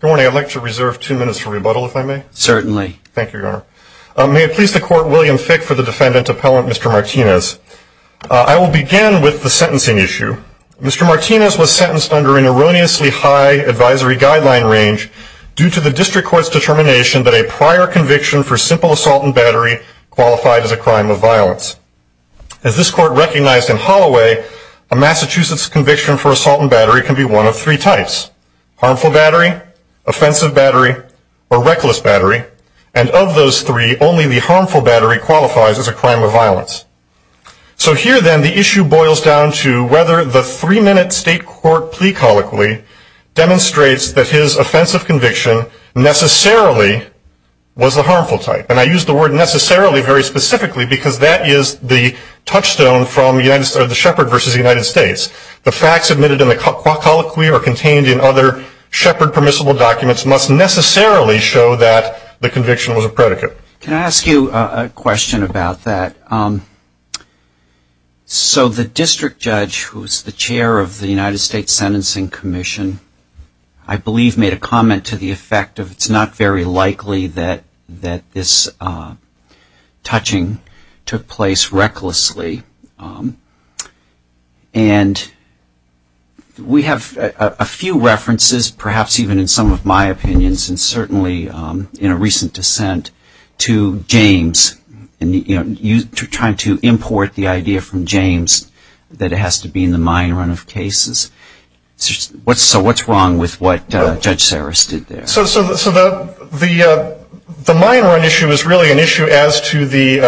Good morning. I'd like to reserve two minutes for rebuttal, if I may. Certainly. Thank you, Your Honor. May it please the Court, William Fick for the defendant, Appellant Mr. Martinez. I will begin with the sentencing issue. Mr. Martinez was sentenced under an erroneously high advisory guideline range due to the District Court's determination that a prior conviction for simple assault and battery qualified as a crime of violence. As this Court recognized in Holloway, a Massachusetts conviction for assault and battery can be one of three types, harmful battery, offensive battery, or reckless battery, and of those three, only the harmful battery qualifies as a crime of violence. So here, then, the issue boils down to whether the three-minute State Court plea colloquy demonstrates that his offensive conviction necessarily was the harmful type. And I use the word necessarily very specifically because that is the touchstone from the Shepherd v. United States. The facts admitted in the colloquy or contained in other Shepherd permissible documents must necessarily show that the conviction was a predicate. Can I ask you a question about that? So the District Judge, who is the Chair of the United States Sentencing Commission, I believe made a comment to the effect of it's not very likely that this touching took place recklessly, and we have a few references, perhaps even in some of my opinions, and certainly in a recent dissent to James, trying to import the idea from James that it has to be in the mine run of cases. So what's wrong with what Judge Sarris did there? So the mine run issue is really an issue as to the,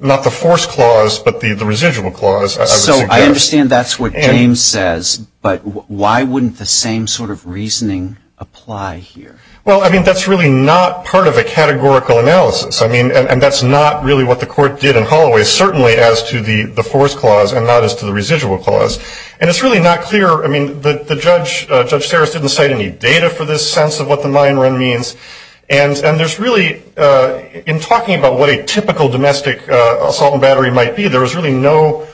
not the force clause, but the residual clause. So I understand that's what James says, but why wouldn't the same sort of reasoning apply here? Well, I mean, that's really not part of a categorical analysis. I mean, and that's not really what the Court did in Holloway, certainly as to the force clause and not as to the residual clause. And it's really not clear. I mean, Judge Sarris didn't cite any data for this sense of what the mine run means. And there's really, in talking about what a typical domestic assault and battery might be, there was really no,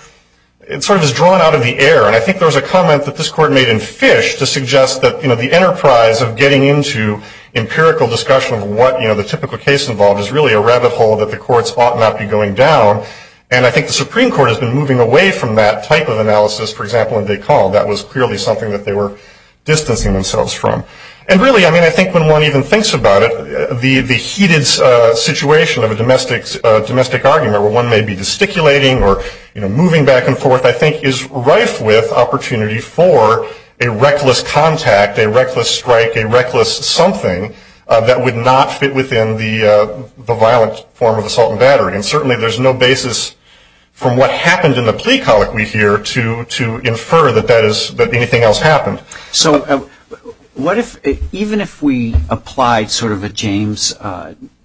it sort of is drawn out of the air. And I think there was a comment that this Court made in Fish to suggest that, you know, the enterprise of getting into empirical discussion of what, you know, the typical case involved is really a rabbit hole that the courts ought not be going down. And I think the Supreme Court has been moving away from that type of analysis, for example, in DeCaul. That was clearly something that they were distancing themselves from. And really, I mean, I think when one even thinks about it, the heated situation of a domestic argument where one may be gesticulating or, you know, moving back and forth, I think is rife with opportunity for a reckless contact, a reckless strike, a reckless something, that would not fit within the violent form of assault and battery. And certainly there's no basis from what happened in the plea colloquy here to infer that that is, that anything else happened. So what if, even if we applied sort of a James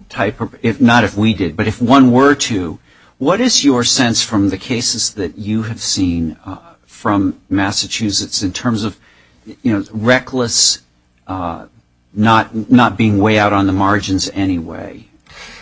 type, not if we did, but if one were to, what is your sense from the cases that you have seen from Massachusetts in terms of, you know, reckless not being way out on the margins anyway?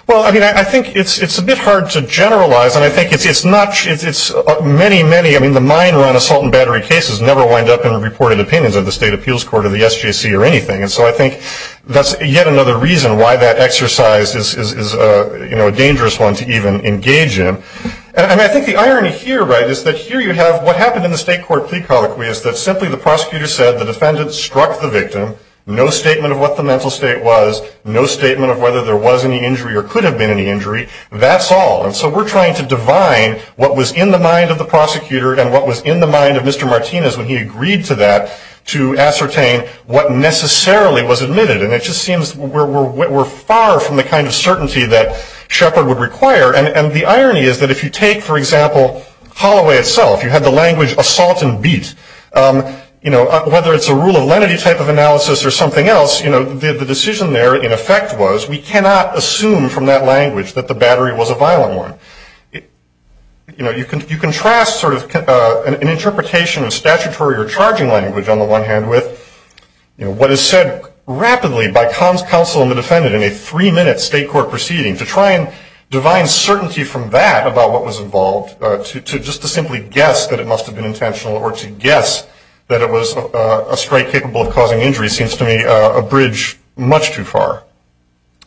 Well, I mean, I think it's a bit hard to generalize. And I think it's not, it's many, many, I mean, the mine run assault and battery cases never wind up in the reported opinions of the State Appeals Court or the SJC or anything. And so I think that's yet another reason why that exercise is, you know, a dangerous one to even engage in. And I mean, I think the irony here, right, is that here you have what happened in the State Court plea colloquy is that simply the prosecutor said the defendant struck the victim. No statement of what the mental state was. No statement of whether there was any injury or could have been any injury. That's all. And so we're trying to divine what was in the mind of the prosecutor and what was in the mind of Mr. Martinez when he agreed to that to ascertain what necessarily was admitted. And it just seems we're far from the kind of certainty that Shepard would require. And the irony is that if you take, for example, Holloway itself, you had the language assault and beat. You know, whether it's a rule of lenity type of analysis or something else, you know, the decision there in effect was we cannot assume from that language that the battery was a violent one. You know, you contrast sort of an interpretation of statutory or charging language on the one hand with what is said rapidly by counsel and the defendant in a three-minute State Court proceeding to try and divine certainty from that about what was involved just to simply guess that it must have been intentional or to guess that it was a strike capable of causing injury seems to me a bridge much too far.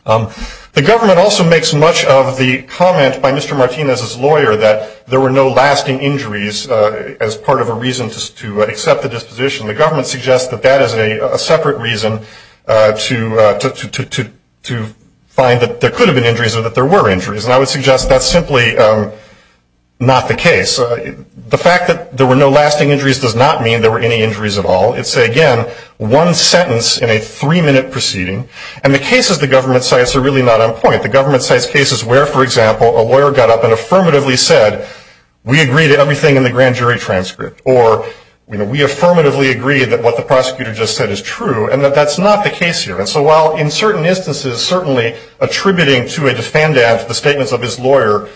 The government also makes much of the comment by Mr. Martinez's lawyer that there were no lasting injuries as part of a reason to accept the disposition. The government suggests that that is a separate reason to find that there could have been injuries or that there were injuries, and I would suggest that's simply not the case. The fact that there were no lasting injuries does not mean there were any injuries at all. It's, again, one sentence in a three-minute proceeding, and the cases the government cites are really not on point. The government cites cases where, for example, a lawyer got up and affirmatively said, we agree to everything in the grand jury transcript, or we affirmatively agree that what the prosecutor just said is true, and that that's not the case here. And so while in certain instances certainly attributing to a defendant the statements of his lawyer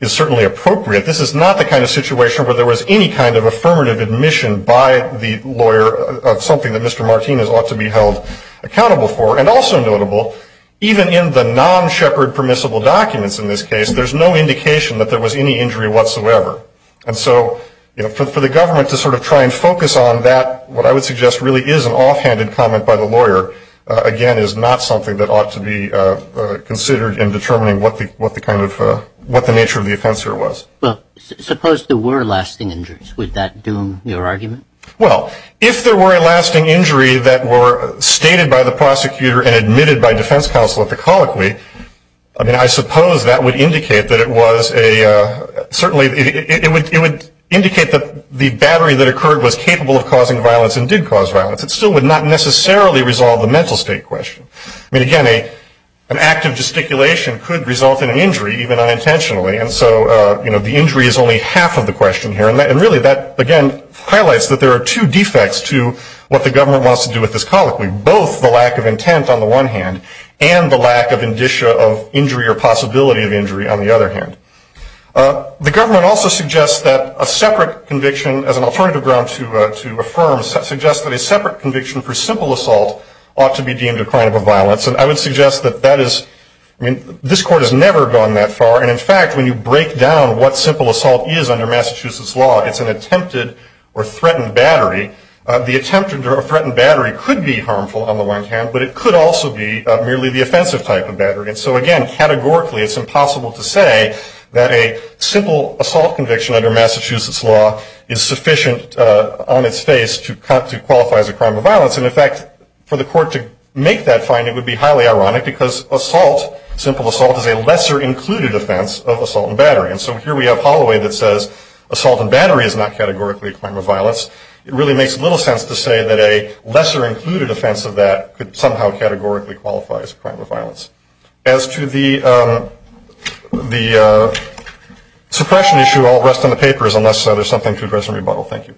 is certainly appropriate, this is not the kind of situation where there was any kind of affirmative admission by the lawyer of something that Mr. Martinez ought to be held accountable for. And also notable, even in the non-Shepherd permissible documents in this case, there's no indication that there was any injury whatsoever. And so, you know, for the government to sort of try and focus on that, what I would suggest really is an offhanded comment by the lawyer, again, is not something that ought to be considered in determining what the nature of the offense here was. Well, suppose there were lasting injuries. Would that doom your argument? Well, if there were a lasting injury that were stated by the prosecutor and admitted by defense counsel at the colloquy, I mean, I suppose that would indicate that it was a, certainly it would indicate that the battery that occurred was capable of causing violence and did cause violence. It still would not necessarily resolve the mental state question. I mean, again, an act of gesticulation could result in an injury, even unintentionally. And so, you know, the injury is only half of the question here. And really that, again, highlights that there are two defects to what the government wants to do with this colloquy, both the lack of intent on the one hand and the lack of indicia of injury or possibility of injury on the other hand. The government also suggests that a separate conviction, as an alternative ground to affirm, suggests that a separate conviction for simple assault ought to be deemed a crime of violence. And I would suggest that that is, I mean, this court has never gone that far. And, in fact, when you break down what simple assault is under Massachusetts law, it's an attempted or threatened battery. The attempted or threatened battery could be harmful on the one hand, but it could also be merely the offensive type of battery. And so, again, categorically it's impossible to say that a simple assault conviction under Massachusetts law is sufficient on its face to qualify as a crime of violence. And, in fact, for the court to make that finding would be highly ironic because assault, simple assault is a lesser included offense of assault and battery. And so here we have Holloway that says assault and battery is not categorically a crime of violence. It really makes little sense to say that a lesser included offense of that could somehow categorically qualify as a crime of violence. As to the suppression issue, I'll rest on the papers unless there's something to address in rebuttal. Thank you.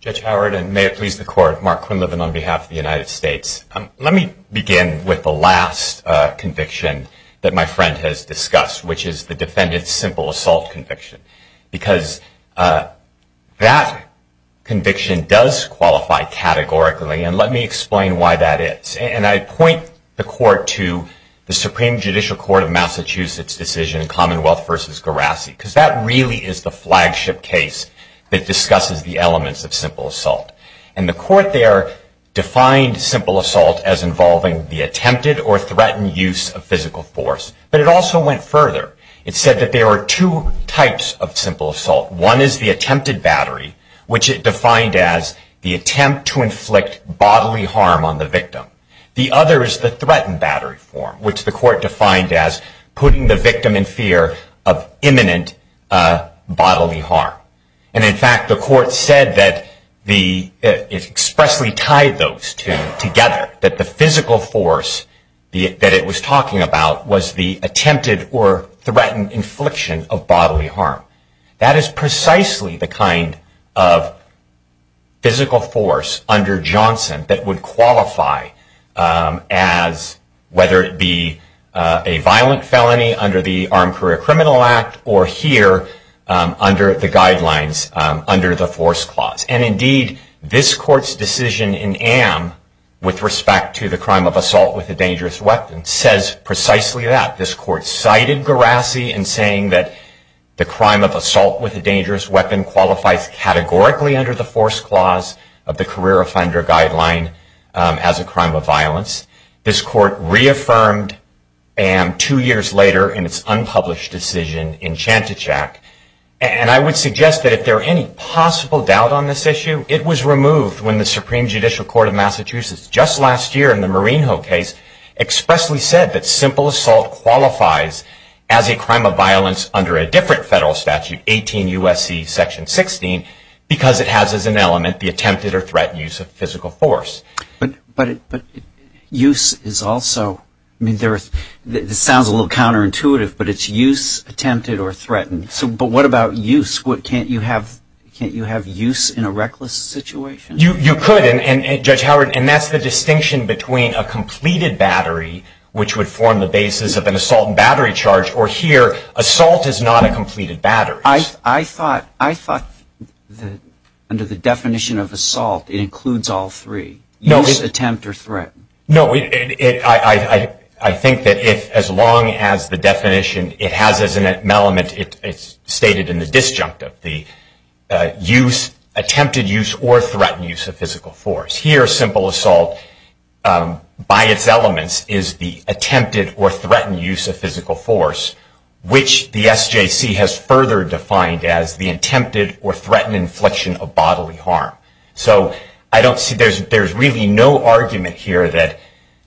Judge Howard, and may it please the Court, Mark Quinlivan on behalf of the United States. Let me begin with the last conviction that my friend has discussed, which is the defendant's simple assault conviction. Because that conviction does qualify categorically, and let me explain why that is. And I point the Court to the Supreme Judicial Court of Massachusetts decision, Commonwealth v. Garassi, because that really is the flagship case that discusses the elements of simple assault. And the Court there defined simple assault as involving the attempted or threatened use of physical force. But it also went further. It said that there are two types of simple assault. One is the attempted battery, which it defined as the attempt to inflict bodily harm on the victim. The other is the threatened battery form, which the Court defined as putting the victim in fear of imminent bodily harm. And in fact, the Court said that it expressly tied those two together. That the physical force that it was talking about was the attempted or threatened infliction of bodily harm. That is precisely the kind of physical force under Johnson that would qualify as, whether it be a violent felony under the Armed Career Criminal Act, or here, under the guidelines, under the Force Clause. And indeed, this Court's decision in Am, with respect to the crime of assault with a dangerous weapon, says precisely that. This Court cited Garassi in saying that the crime of assault with a dangerous weapon qualifies categorically under the Force Clause of the Career Offender Guideline as a crime of violence. This Court reaffirmed Am two years later in its unpublished decision in Chantichack. And I would suggest that if there are any possible doubt on this issue, it was removed when the Supreme Judicial Court of Massachusetts, just last year in the Marinho case, expressly said that simple assault qualifies as a crime of violence under a different federal statute, 18 U.S.C. Section 16, because it has as an element the attempted or threatened use of physical force. But use is also, I mean, this sounds a little counterintuitive, but it's use, attempted or threatened. But what about use? Can't you have use in a reckless situation? You could, Judge Howard, and that's the distinction between a completed battery, which would form the basis of an assault and battery charge, or here, assault is not a completed battery. I thought under the definition of assault, it includes all three, use, attempt, or threaten. No, I think that as long as the definition, it has as an element, it's stated in the disjunctive, the attempted use or threatened use of physical force. Here, simple assault, by its elements, is the attempted or threatened use of physical force, which the SJC has further defined as the attempted or threatened infliction of bodily harm. So I don't see, there's really no argument here that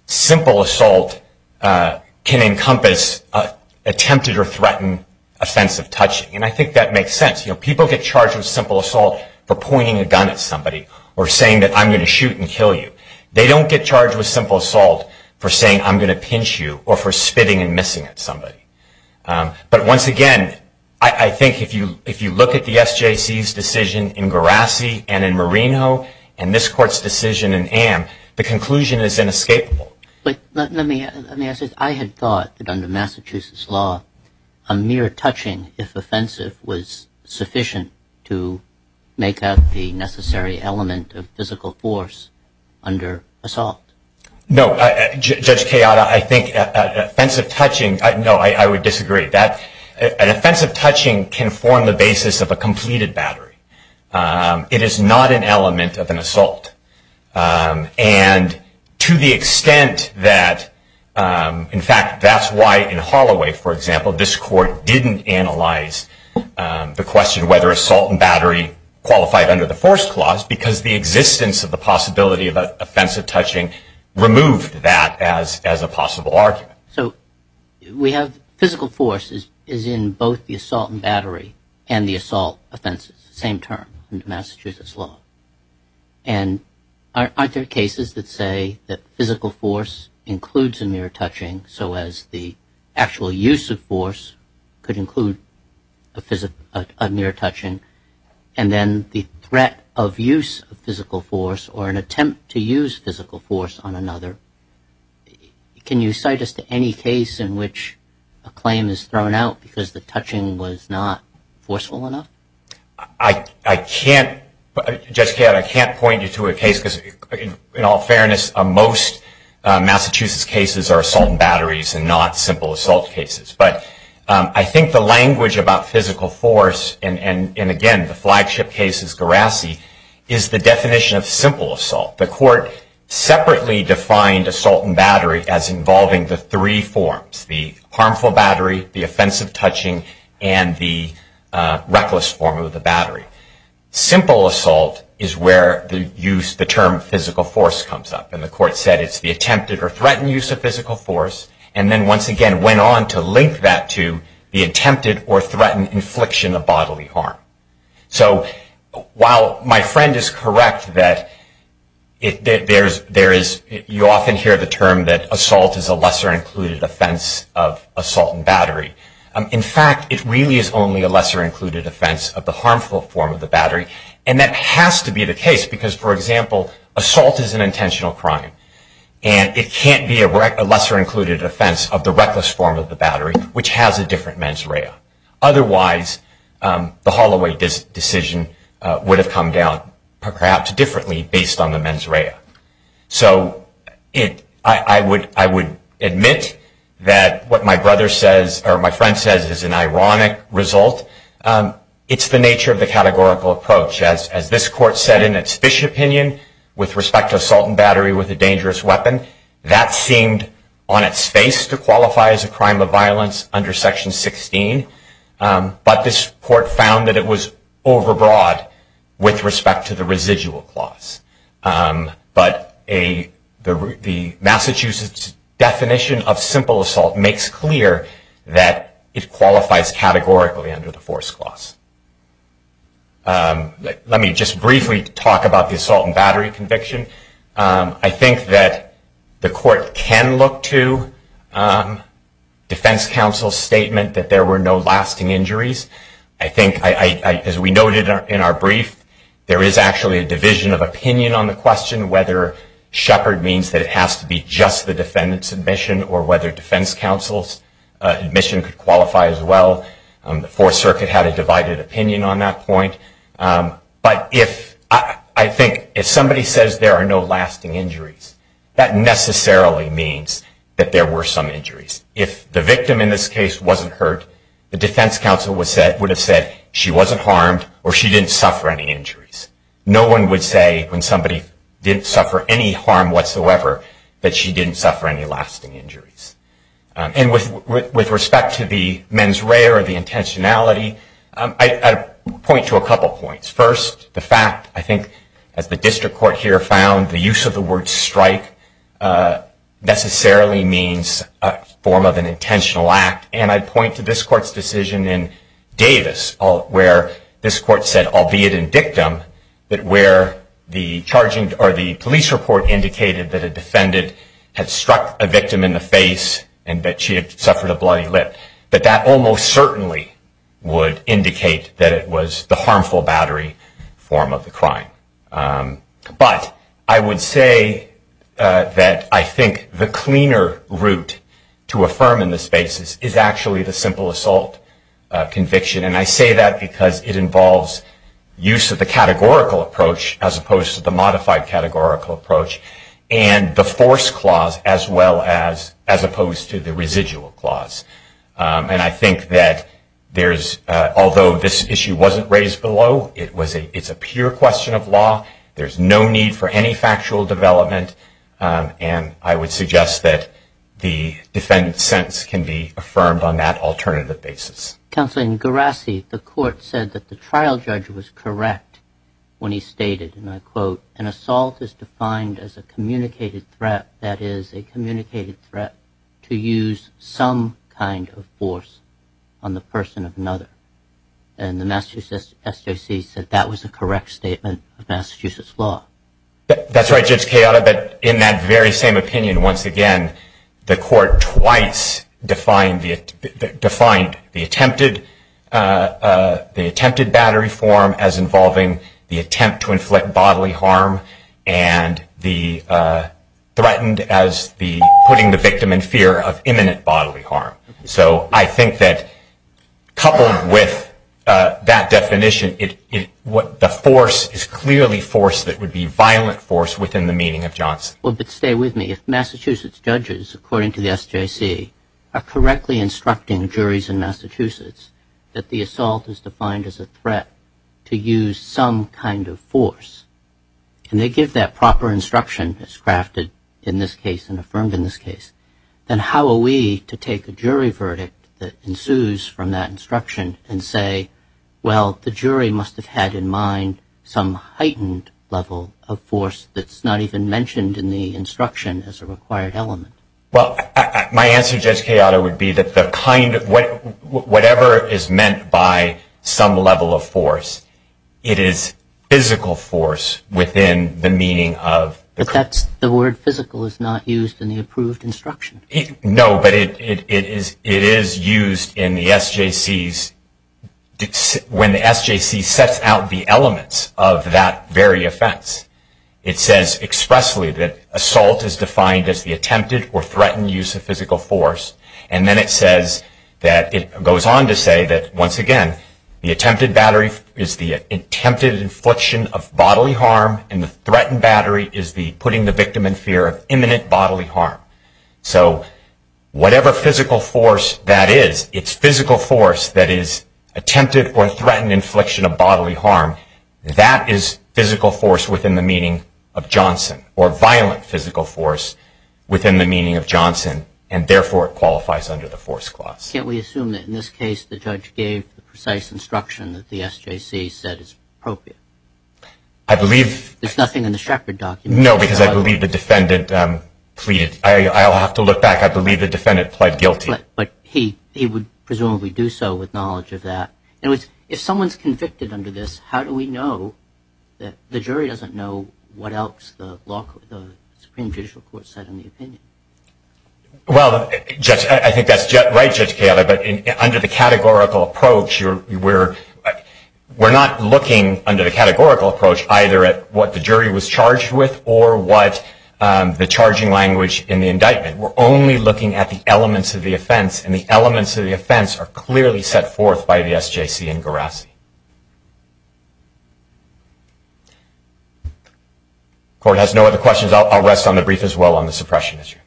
simple assault can encompass attempted or threatened offensive touching. And I think that makes sense. You know, people get charged with simple assault for pointing a gun at somebody or saying that I'm going to shoot and kill you. They don't get charged with simple assault for saying I'm going to pinch you or for spitting and missing at somebody. But once again, I think if you look at the SJC's decision in Garassi and in Marino and this court's decision in Amm, the conclusion is inescapable. But let me ask this. I had thought that under Massachusetts law, a mere touching, if offensive, was sufficient to make up the necessary element of physical force under assault. No, Judge Kayada, I think offensive touching, no, I would disagree. An offensive touching can form the basis of a completed battery. It is not an element of an assault. And to the extent that, in fact, that's why in Holloway, for example, this court didn't analyze the question whether assault and battery qualified under the force clause, because the existence of the possibility of offensive touching removed that as a possible argument. So we have physical force is in both the assault and battery and the assault offenses, same term under Massachusetts law. And aren't there cases that say that physical force includes a mere touching, so as the actual use of force could include a mere touching, and then the threat of use of physical force or an attempt to use physical force on another? Can you cite us to any case in which a claim is thrown out because the touching was not forceful enough? I can't. Judge Kayada, I can't point you to a case because, in all fairness, most Massachusetts cases are assault and batteries and not simple assault cases. But I think the language about physical force, and again, the flagship case is Garassi, is the definition of simple assault. The court separately defined assault and battery as involving the three forms, the harmful battery, the offensive touching, and the reckless form of the battery. Simple assault is where the term physical force comes up, and the court said it's the attempted or threatened use of physical force, and then once again went on to link that to the attempted or threatened infliction of bodily harm. So while my friend is correct that you often hear the term that assault is a lesser included offense of assault and battery, in fact, it really is only a lesser included offense of the harmful form of the battery, and that has to be the case because, for example, assault is an intentional crime, and it can't be a lesser included offense of the reckless form of the battery, which has a different mens rea. Otherwise, the Holloway decision would have come down perhaps differently based on the mens rea. So I would admit that what my friend says is an ironic result. It's the nature of the categorical approach. As this court said in its Fish opinion with respect to assault and battery with a dangerous weapon, that seemed on its face to qualify as a crime of violence under Section 16, but this court found that it was overbroad with respect to the residual clause. But the Massachusetts definition of simple assault makes clear that it qualifies categorically under the force clause. Let me just briefly talk about the assault and battery conviction. I think that the court can look to defense counsel's statement that there were no lasting injuries. I think, as we noted in our brief, there is actually a division of opinion on the question whether Shepard means that it has to be just the defendant's admission or whether defense counsel's admission could qualify as well. The Fourth Circuit had a divided opinion on that point. But I think if somebody says there are no lasting injuries, that necessarily means that there were some injuries. If the victim in this case wasn't hurt, the defense counsel would have said she wasn't harmed or she didn't suffer any injuries. No one would say when somebody didn't suffer any harm whatsoever that she didn't suffer any lasting injuries. And with respect to the mens rea or the intentionality, I'd point to a couple points. First, the fact, I think, as the district court here found, the use of the word strike necessarily means a form of an intentional act. And I'd point to this court's decision in Davis where this court said, albeit in dictum, that where the police report indicated that a defendant had struck a victim in the face and that she had suffered a bloody lip, that that almost certainly would indicate that it was the harmful battery form of the crime. But I would say that I think the cleaner route to affirm in this basis is actually the simple assault conviction. And I say that because it involves use of the categorical approach as opposed to the modified categorical approach and the force clause as opposed to the residual clause. And I think that although this issue wasn't raised below, it's a pure question of law. There's no need for any factual development. And I would suggest that the defendant's sentence can be affirmed on that alternative basis. Counsel, in Gerasi, the court said that the trial judge was correct when he stated, and I quote, an assault is defined as a communicated threat, that is, a communicated threat to use some kind of force on the person of another. And the Massachusetts SJC said that was a correct statement of Massachusetts law. That's right, Judge Chioda. But in that very same opinion, once again, the court twice defined the attempted battery form as involving the attempt to inflict bodily harm and threatened as putting the victim in fear of imminent bodily harm. So I think that coupled with that definition, the force is clearly force that would be violent force within the meaning of Johnson. Well, but stay with me. If Massachusetts judges, according to the SJC, are correctly instructing juries in Massachusetts that the assault is defined as a threat to use some kind of force, and they give that proper instruction as crafted in this case and affirmed in this case, then how are we to take a jury verdict that ensues from that instruction and say, well, the jury must have had in mind some heightened level of force that's not even mentioned in the instruction as a required element? Well, my answer, Judge Chioda, would be that whatever is meant by some level of force, it is physical force within the meaning of the court. That's the word physical is not used in the approved instruction. No, but it is used in the SJC's when the SJC sets out the elements of that very offense. It says expressly that assault is defined as the attempted or threatened use of physical force, and then it says that it goes on to say that, once again, the attempted battery is the attempted infliction of bodily harm, and the threatened battery is the putting the victim in fear of imminent bodily harm. So whatever physical force that is, it's physical force that is attempted or threatened infliction of bodily harm. That is physical force within the meaning of Johnson, or violent physical force within the meaning of Johnson, and therefore it qualifies under the force clause. Can't we assume that in this case the judge gave the precise instruction that the SJC said is appropriate? I believe... There's nothing in the Shepard document. No, because I believe the defendant pleaded. I'll have to look back. I believe the defendant pled guilty. But he would presumably do so with knowledge of that. In other words, if someone's convicted under this, how do we know that the jury doesn't know what else the Supreme Judicial Court said in the opinion? Well, Judge, I think that's right, Judge Cayola, but under the categorical approach, we're not looking under the categorical approach either at what the jury was charged with or what the charging language in the indictment. We're only looking at the elements of the offense, and the elements of the offense are clearly set forth by the SJC and Gerasi. Court has no other questions. I'll rest on the brief as well on the suppression issue.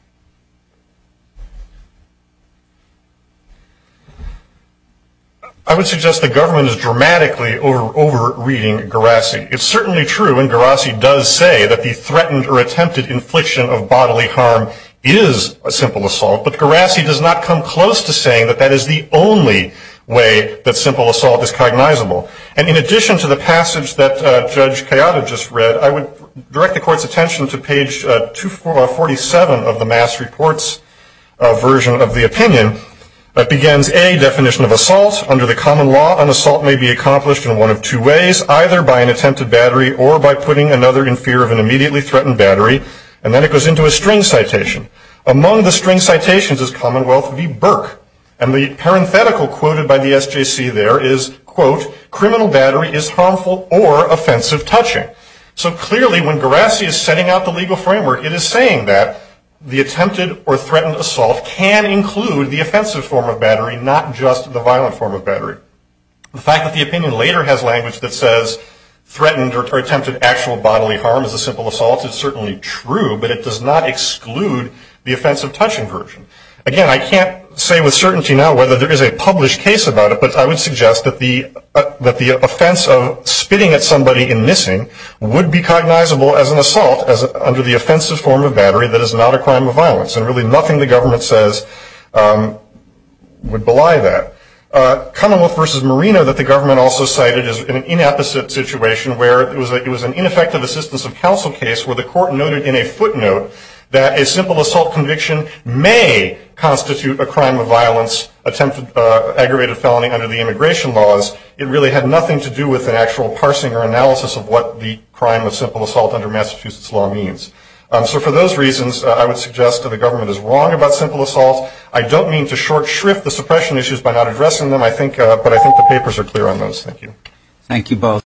I would suggest the government is dramatically over-reading Gerasi. It's certainly true, and Gerasi does say that the threatened or attempted infliction of bodily harm is a simple assault, but Gerasi does not come close to saying that that is the only way that simple assault is cognizable. And in addition to the passage that Judge Cayola just read, I would direct the Court's attention to page 247 of the Mass Reports version of the opinion. It begins, A, definition of assault. Under the common law, an assault may be accomplished in one of two ways, either by an attempted battery or by putting another in fear of an immediately threatened battery, and then it goes into a string citation. Among the string citations is Commonwealth v. Burke, and the parenthetical quoted by the SJC there is, quote, criminal battery is harmful or offensive touching. So clearly when Gerasi is setting out the legal framework, it is saying that the attempted or threatened assault can include the offensive form of battery, not just the violent form of battery. The fact that the opinion later has language that says threatened or attempted actual bodily harm is a simple assault is certainly true, but it does not exclude the offensive touching version. Again, I can't say with certainty now whether there is a published case about it, but I would suggest that the offense of spitting at somebody and missing would be cognizable as an assault under the offensive form of battery that is not a crime of violence, and really nothing the government says would belie that. Commonwealth v. Marino that the government also cited is an inapposite situation where it was an ineffective assistance of counsel case where the Court noted in a footnote that a simple assault conviction may constitute a crime of violence, attempted aggravated felony under the immigration laws. It really had nothing to do with an actual parsing or analysis of what the crime of simple assault under Massachusetts law means. So for those reasons, I would suggest that the government is wrong about simple assaults. I don't mean to short shrift the suppression issues by not addressing them, but I think the papers are clear on those. Thank you. Thank you both.